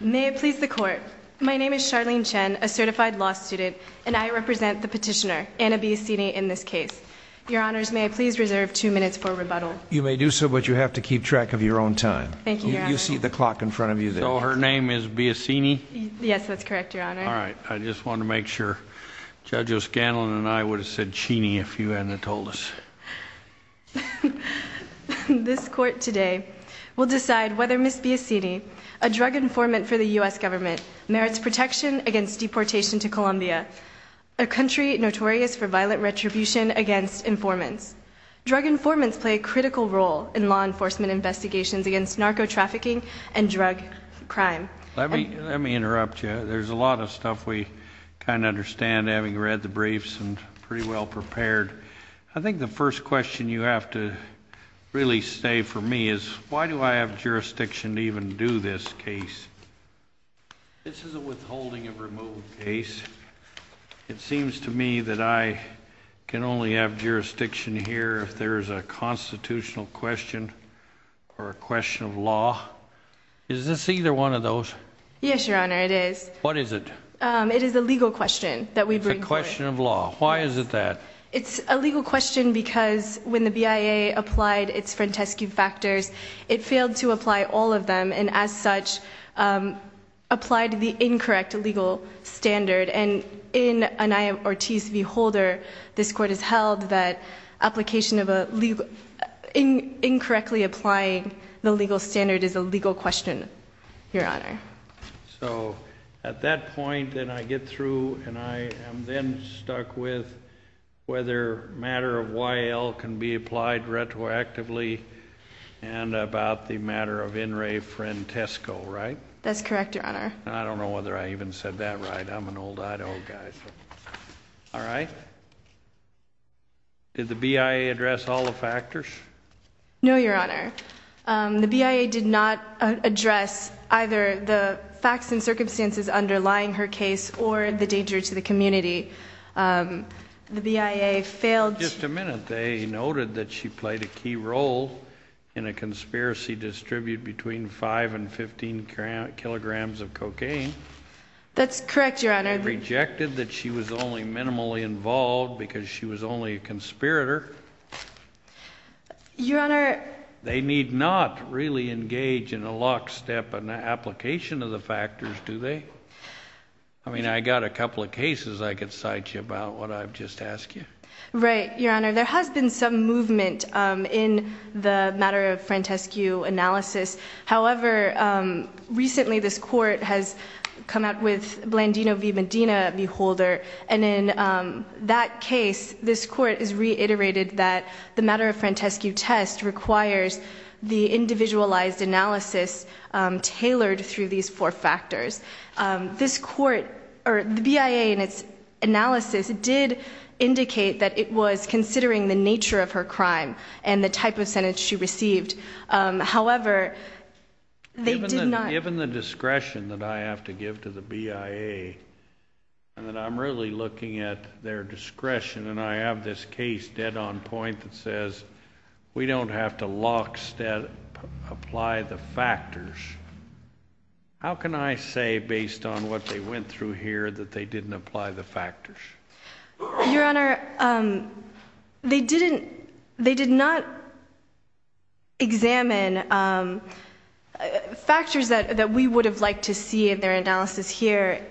May it please the Court, my name is Charlene Chen, a certified law student, and I represent the petitioner, Anna Biocini, in this case. Your Honors, may I please reserve two minutes for rebuttal? You may do so, but you have to keep track of your own time. Thank you, Your Honor. You see the clock in front of you there. So her name is Biocini? Yes, that's correct, Your Honor. All right, I just wanted to make sure. Judge O'Scanlan and I would have said Cheney if you hadn't told us. This Court today will decide whether Ms. Biocini, a drug informant for the U.S. government, merits protection against deportation to Colombia, a country notorious for violent retribution against informants. Drug informants play a critical role in law enforcement investigations against narco-trafficking and drug crime. Let me interrupt you. There's a lot of stuff we kind of understand, having read the briefs and pretty well prepared. I think the first question you have to really say for me is, why do I have jurisdiction to even do this case? This is a withholding of removal case. It seems to me that I can only have jurisdiction here if there is a constitutional question or a question of law. Is this either one of those? Yes, Your Honor, it is. What is it? It is a legal question that we bring forward. It's a question of law. Why is it that? It's a legal question because when the BIA applied its Frantescu factors, it failed to apply all of them, and as such, applied the incorrect legal standard. And in an I.M. Ortiz v. Holder, this Court has held that application of a legal—incorrectly applying the legal standard is a legal question, Your Honor. So at that point, then I get through, and I am then stuck with whether matter of Y.L. can be applied retroactively and about the matter of In re Frantescu, right? That's correct, Your Honor. I don't know whether I even said that right. I'm an old I.O. guy. All right. Did the BIA address all the factors? No, Your Honor. The BIA did not address either the facts and circumstances underlying her case or the danger to the community. The BIA failed to— Just a minute. They noted that she played a key role in a conspiracy to distribute between 5 and 15 kilograms of cocaine. That's correct, Your Honor. They rejected that she was only minimally involved because she was only a conspirator. Your Honor— They need not really engage in a lockstep application of the factors, do they? I mean, I got a couple of cases I could cite you about, what I've just asked you. Right, Your Honor. There has been some movement in the matter of Frantescu analysis. However, recently this court has come out with Blandino v. Medina v. Holder. And in that case, this court has reiterated that the matter of Frantescu test requires the individualized analysis tailored through these four factors. The BIA in its analysis did indicate that it was considering the nature of her crime and the type of sentence she received. However, they did not— Given the discretion that I have to give to the BIA, and that I'm really looking at their discretion, and I have this case dead on point that says we don't have to lockstep apply the factors, how can I say based on what they went through here that they didn't apply the factors? Your Honor, they did not examine factors that we would have liked to see in their analysis here,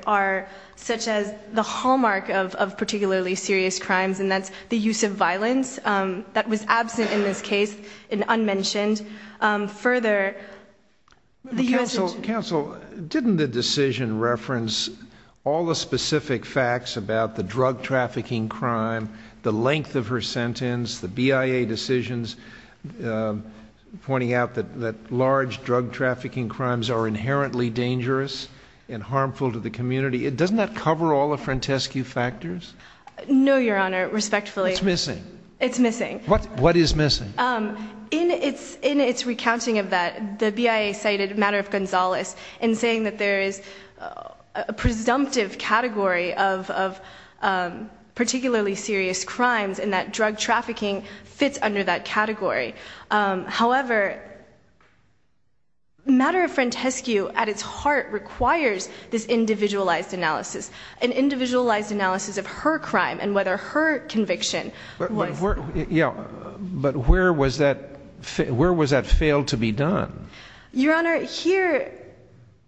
such as the hallmark of particularly serious crimes, and that's the use of violence. That was absent in this case, and unmentioned. Further, the U.S.— Counsel, didn't the decision reference all the specific facts about the drug trafficking crime, the length of her sentence, the BIA decisions pointing out that large drug trafficking crimes are inherently dangerous and harmful to the community? Doesn't that cover all the Frantescu factors? No, Your Honor, respectfully. It's missing. It's missing. What is missing? In its recounting of that, the BIA cited Matter of Gonzales in saying that there is a presumptive category of particularly serious crimes and that drug trafficking fits under that category. However, Matter of Frantescu at its heart requires this individualized analysis, an individualized analysis of her crime and whether her conviction was— But where was that failed to be done? Your Honor, here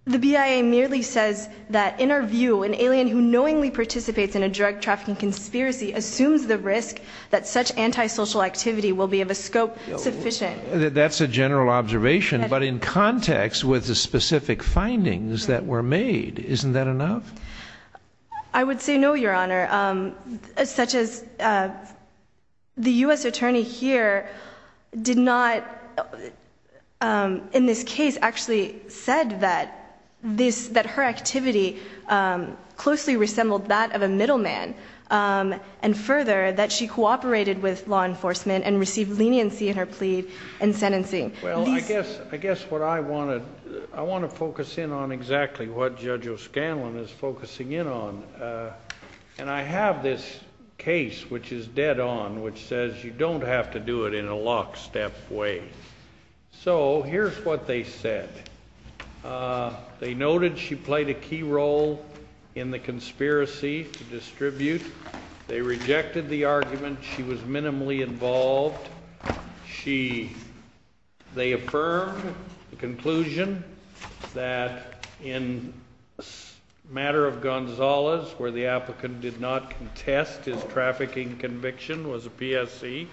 the BIA merely says that, in our view, an alien who knowingly participates in a drug trafficking conspiracy assumes the risk that such antisocial activity will be of a scope sufficient. That's a general observation, but in context with the specific findings that were made, isn't that enough? I would say no, Your Honor, such as the U.S. attorney here did not, in this case, actually said that her activity closely resembled that of a middleman and further that she cooperated with law enforcement and received leniency in her plea and sentencing. Well, I guess what I want to—I want to focus in on exactly what Judge O'Scanlan is focusing in on. And I have this case, which is dead on, which says you don't have to do it in a lockstep way. So here's what they said. They noted she played a key role in the conspiracy to distribute. They rejected the argument. She was minimally involved. She—they affirmed the conclusion that in the matter of Gonzalez, where the applicant did not contest his trafficking conviction, was a PSC.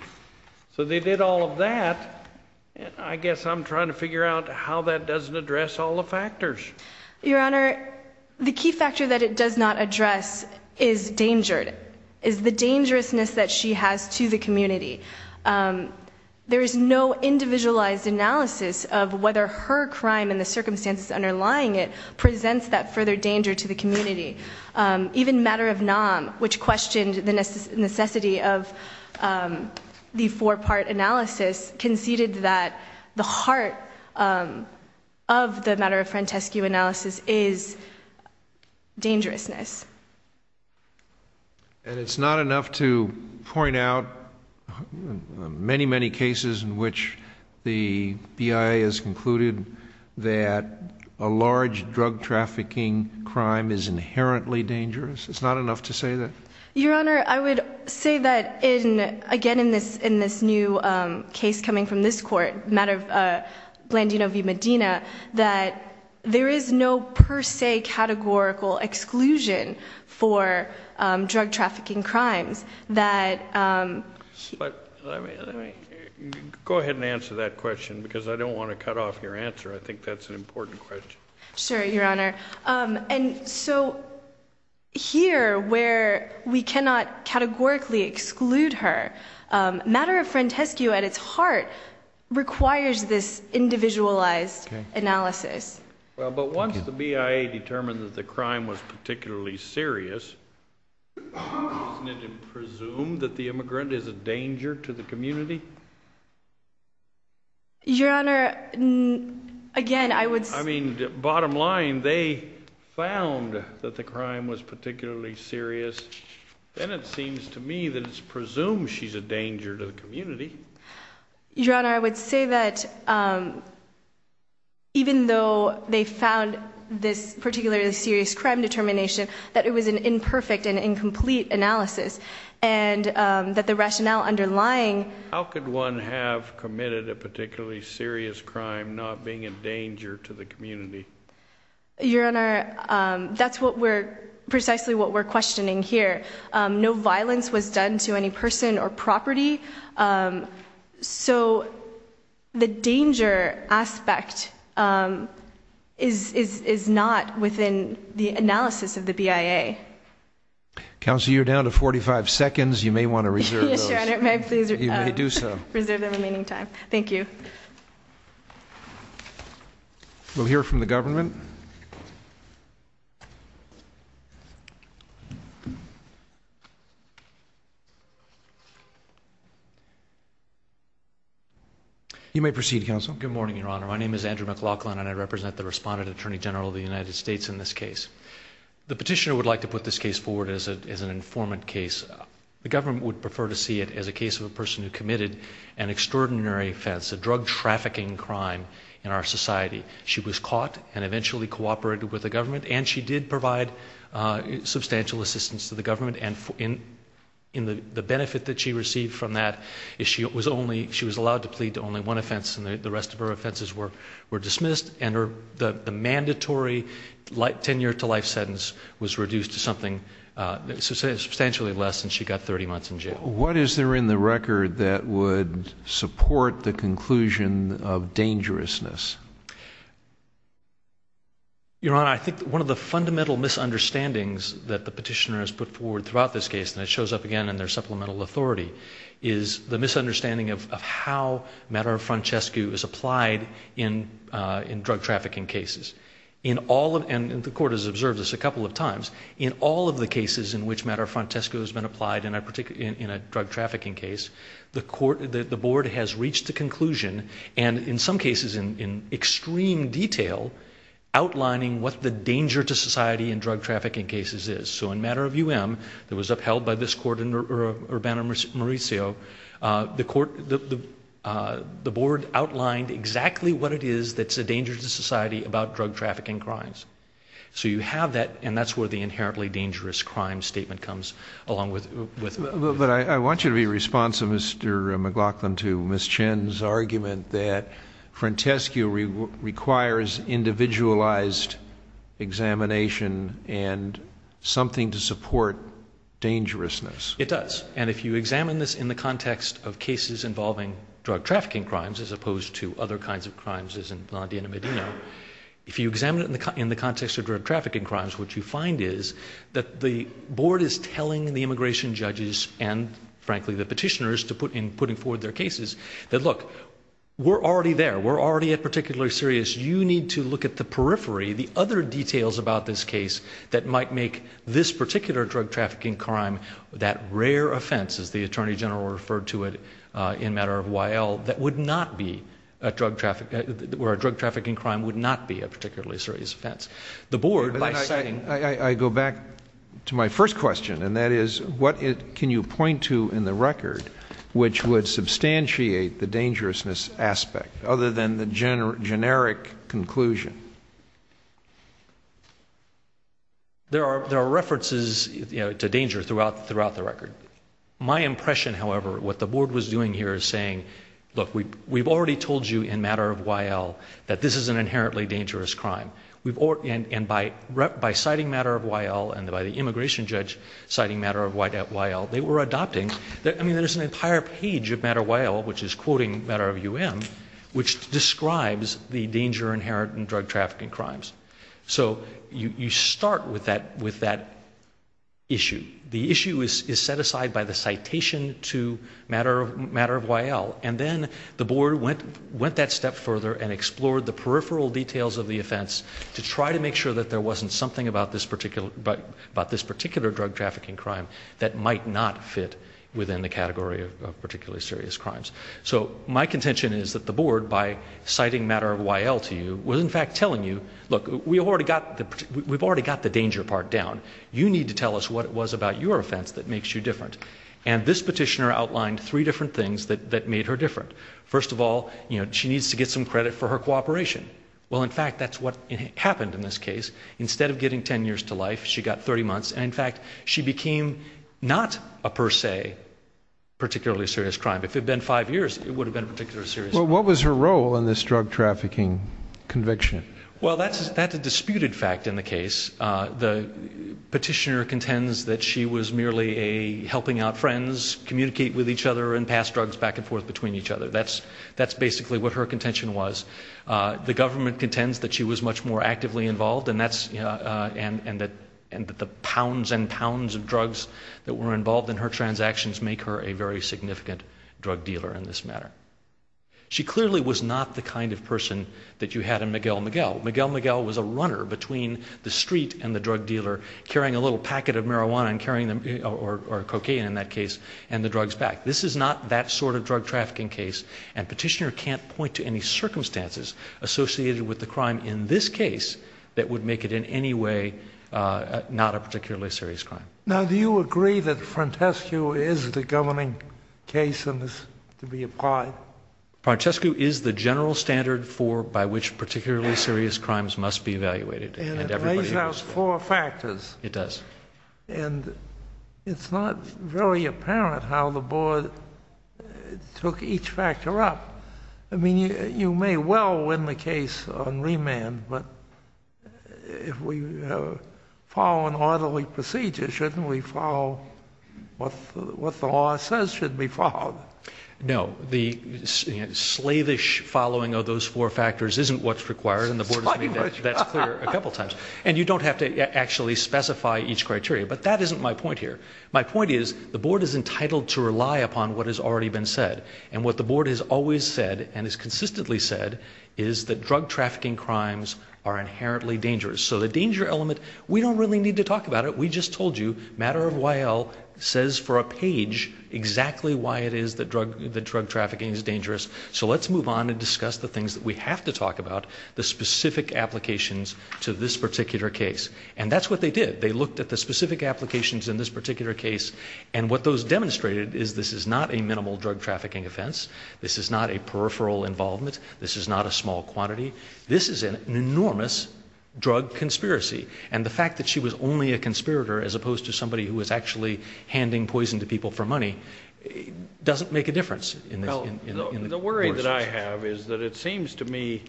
So they did all of that. And I guess I'm trying to figure out how that doesn't address all the factors. Your Honor, the key factor that it does not address is danger, is the dangerousness that she has to the community. There is no individualized analysis of whether her crime and the circumstances underlying it presents that further danger to the community. Even Matter of Nam, which questioned the necessity of the four-part analysis, conceded that the heart of the Matter of Frantescu analysis is dangerousness. And it's not enough to point out many, many cases in which the BIA has concluded that a large drug trafficking crime is inherently dangerous? It's not enough to say that? Your Honor, I would say that, again, in this new case coming from this court, Matter of Blandino v. Medina, that there is no per se categorical exclusion for drug trafficking crimes. Go ahead and answer that question, because I don't want to cut off your answer. I think that's an important question. Sure, Your Honor. And so here, where we cannot categorically exclude her, Matter of Frantescu at its heart requires this individualized analysis. Well, but once the BIA determined that the crime was particularly serious, isn't it presumed that the immigrant is a danger to the community? Your Honor, again, I would say— I mean, bottom line, they found that the crime was particularly serious, and it seems to me that it's presumed she's a danger to the community. Your Honor, I would say that even though they found this particularly serious crime determination, that it was an imperfect and incomplete analysis, and that the rationale underlying— Your Honor, that's precisely what we're questioning here. No violence was done to any person or property. So the danger aspect is not within the analysis of the BIA. Counsel, you're down to 45 seconds. You may want to reserve those. Yes, Your Honor. You may do so. Reserve the remaining time. Thank you. Thank you. We'll hear from the government. You may proceed, Counsel. Good morning, Your Honor. My name is Andrew McLaughlin, and I represent the Respondent Attorney General of the United States in this case. The petitioner would like to put this case forward as an informant case. The government would prefer to see it as a case of a person who committed an extraordinary offense, a drug trafficking crime in our society. She was caught and eventually cooperated with the government, and she did provide substantial assistance to the government. And the benefit that she received from that is she was allowed to plead to only one offense, and the rest of her offenses were dismissed. And the mandatory 10-year-to-life sentence was reduced to something substantially less, and she got 30 months in jail. What is there in the record that would support the conclusion of dangerousness? Your Honor, I think one of the fundamental misunderstandings that the petitioner has put forward throughout this case, and it shows up again in their supplemental authority, is the misunderstanding of how Matter of Francesco is applied in drug trafficking cases. And the Court has observed this a couple of times. In all of the cases in which Matter of Francesco has been applied in a drug trafficking case, the Board has reached the conclusion, and in some cases in extreme detail, outlining what the danger to society in drug trafficking cases is. So in Matter of U.M., that was upheld by this Court in Urbana-Mauricio, the Board outlined exactly what it is that's a danger to society about drug trafficking crimes. So you have that, and that's where the inherently dangerous crime statement comes along with it. But I want you to be responsive, Mr. McLaughlin, to Ms. Chen's argument that Francesco requires individualized examination and something to support dangerousness. It does. And if you examine this in the context of cases involving drug trafficking crimes, as opposed to other kinds of crimes as in Blondie and Medina, if you examine it in the context of drug trafficking crimes, what you find is that the Board is telling the immigration judges and, frankly, the petitioners, in putting forward their cases, that, look, we're already there. We're already at particularly serious. You need to look at the periphery, the other details about this case that might make this particular drug trafficking crime that rare offense, as the Attorney General referred to it in matter of Y.L., that would not be a drug trafficking crime, would not be a particularly serious offense. The Board, by setting... I go back to my first question, and that is, what can you point to in the record which would substantiate the dangerousness aspect, other than the generic conclusion? There are references to danger throughout the record. My impression, however, what the Board was doing here is saying, look, we've already told you in matter of Y.L. that this is an inherently dangerous crime. And by citing matter of Y.L. and by the immigration judge citing matter of Y.L., they were adopting... I mean, there's an entire page of matter of Y.L., which is quoting matter of U.M., which describes the danger inherent in drug trafficking crimes. So you start with that issue. The issue is set aside by the citation to matter of Y.L. And then the Board went that step further and explored the peripheral details of the offense to try to make sure that there wasn't something about this particular drug trafficking crime that might not fit within the category of particularly serious crimes. So my contention is that the Board, by citing matter of Y.L. to you, was in fact telling you, look, we've already got the danger part down. You need to tell us what it was about your offense that makes you different. And this petitioner outlined three different things that made her different. First of all, she needs to get some credit for her cooperation. Well, in fact, that's what happened in this case. Instead of getting 10 years to life, she got 30 months. And in fact, she became not a per se particularly serious crime. If it had been five years, it would have been a particularly serious crime. Well, what was her role in this drug trafficking conviction? Well, that's a disputed fact in the case. The petitioner contends that she was merely helping out friends communicate with each other and pass drugs back and forth between each other. That's basically what her contention was. The government contends that she was much more actively involved and that the pounds and pounds of drugs that were involved in her transactions make her a very significant drug dealer in this matter. She clearly was not the kind of person that you had in Miguel Miguel. Miguel Miguel was a runner between the street and the drug dealer carrying a little packet of marijuana or cocaine in that case and the drugs back. This is not that sort of drug trafficking case, and petitioner can't point to any circumstances associated with the crime in this case that would make it in any way not a particularly serious crime. Now, do you agree that Frontescue is the governing case in this to be applied? Frontescue is the general standard for by which particularly serious crimes must be evaluated. And it lays out four factors. It does. And it's not very apparent how the board took each factor up. I mean, you may well win the case on remand, but if we follow an orderly procedure, shouldn't we follow what the law says should be followed? No. The slavish following of those four factors isn't what's required, and the board has made that clear a couple times. And you don't have to actually specify each criteria. But that isn't my point here. My point is the board is entitled to rely upon what has already been said. And what the board has always said and has consistently said is that drug trafficking crimes are inherently dangerous. So the danger element, we don't really need to talk about it. Now, we just told you Matter of While says for a page exactly why it is that drug trafficking is dangerous. So let's move on and discuss the things that we have to talk about, the specific applications to this particular case. And that's what they did. They looked at the specific applications in this particular case. And what those demonstrated is this is not a minimal drug trafficking offense. This is not a peripheral involvement. This is not a small quantity. This is an enormous drug conspiracy. And the fact that she was only a conspirator as opposed to somebody who was actually handing poison to people for money doesn't make a difference. The worry that I have is that it seems to me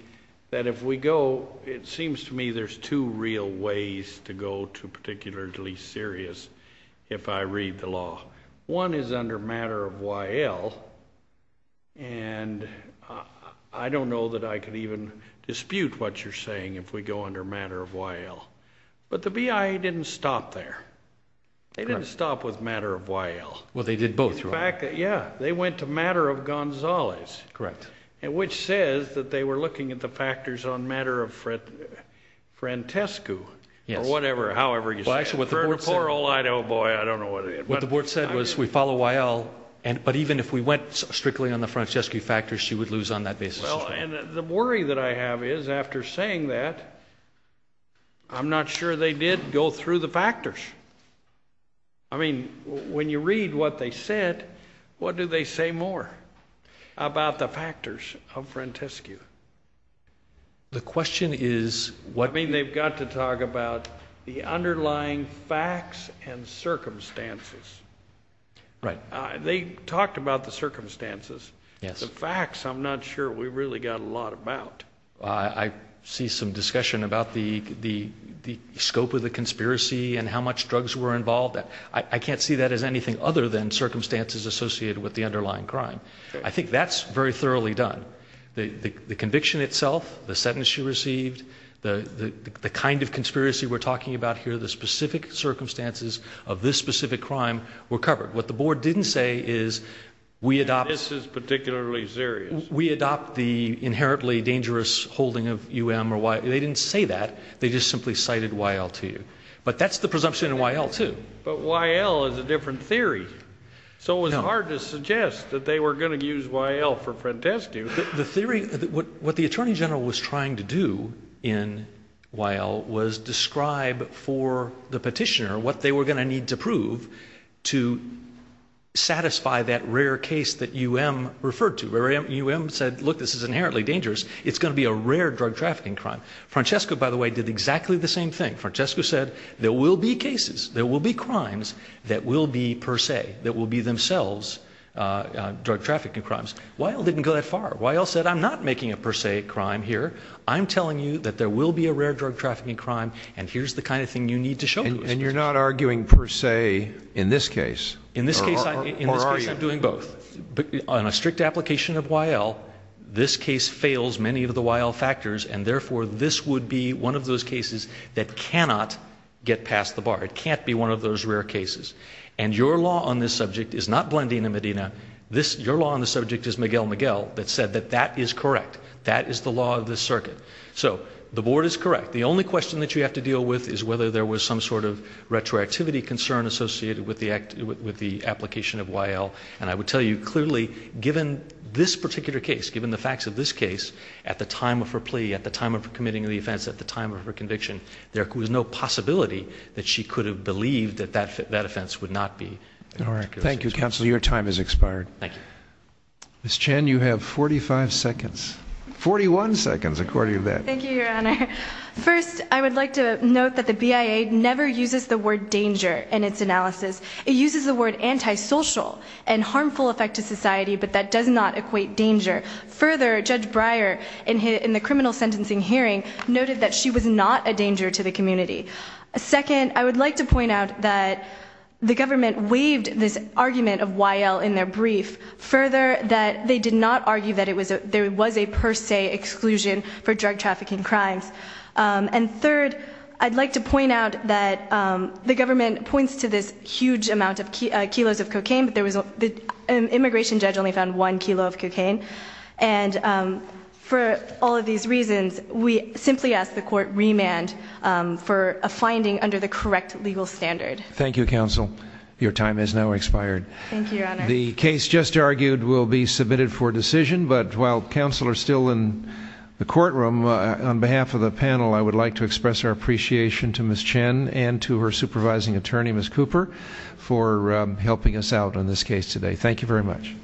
that if we go, it seems to me there's two real ways to go to particularly serious if I read the law. One is under Matter of While. And I don't know that I could even dispute what you're saying if we go under Matter of While. But the BIA didn't stop there. They didn't stop with Matter of While. Well, they did both, right? Yeah. They went to Matter of Gonzales. Correct. Which says that they were looking at the factors on Matter of Frantescu or whatever, however you say it. Oh, boy, I don't know what it is. What the board said was we follow While, but even if we went strictly on the Frantescu factors, she would lose on that basis as well. Well, and the worry that I have is after saying that, I'm not sure they did go through the factors. I mean, when you read what they said, what do they say more about the factors of Frantescu? The question is what? I mean, they've got to talk about the underlying facts and circumstances. Right. They talked about the circumstances. Yes. The facts, I'm not sure we really got a lot about. I see some discussion about the scope of the conspiracy and how much drugs were involved. I can't see that as anything other than circumstances associated with the underlying crime. I think that's very thoroughly done. The conviction itself, the sentence she received, the kind of conspiracy we're talking about here, the specific circumstances of this specific crime were covered. What the board didn't say is we adopt the inherently dangerous holding of U.M. or Y.L. They didn't say that. They just simply cited Y.L. to you. But that's the presumption in Y.L. too. But Y.L. is a different theory. So it was hard to suggest that they were going to use Y.L. for Frantescu. The theory, what the attorney general was trying to do in Y.L. was describe for the petitioner what they were going to need to prove to satisfy that rare case that U.M. referred to. U.M. said, look, this is inherently dangerous. It's going to be a rare drug trafficking crime. Francesco, by the way, did exactly the same thing. Francesco said there will be cases, there will be crimes that will be per se, that will be themselves drug trafficking crimes. Y.L. didn't go that far. Y.L. said I'm not making a per se crime here. I'm telling you that there will be a rare drug trafficking crime, and here's the kind of thing you need to show to us. And you're not arguing per se in this case? In this case I'm doing both. On a strict application of Y.L., this case fails many of the Y.L. factors, and therefore this would be one of those cases that cannot get past the bar. It can't be one of those rare cases. And your law on this subject is not Blandina Medina. Your law on the subject is Miguel Miguel that said that that is correct. That is the law of this circuit. So the board is correct. The only question that you have to deal with is whether there was some sort of retroactivity concern associated with the application of Y.L. And I would tell you clearly, given this particular case, given the facts of this case, at the time of her plea, at the time of her committing the offense, at the time of her conviction, there was no possibility that she could have believed that that offense would not be. All right. Thank you, counsel. Your time has expired. Thank you. Ms. Chen, you have 45 seconds. 41 seconds according to that. Thank you, Your Honor. First, I would like to note that the BIA never uses the word danger in its analysis. It uses the word antisocial and harmful effect to society, but that does not equate danger. Further, Judge Breyer, in the criminal sentencing hearing, noted that she was not a danger to the community. Second, I would like to point out that the government waived this argument of Y.L. in their brief. Further, that they did not argue that there was a per se exclusion for drug trafficking crimes. And third, I'd like to point out that the government points to this huge amount of kilos of cocaine, but the immigration judge only found one kilo of cocaine. And for all of these reasons, we simply ask the court remand for a finding under the correct legal standard. Thank you, counsel. Your time has now expired. Thank you, Your Honor. The case just argued will be submitted for decision, but while counsel are still in the courtroom, on behalf of the panel, I would like to express our appreciation to Ms. Chen and to her supervising attorney, Ms. Cooper, for helping us out on this case today. Thank you very much.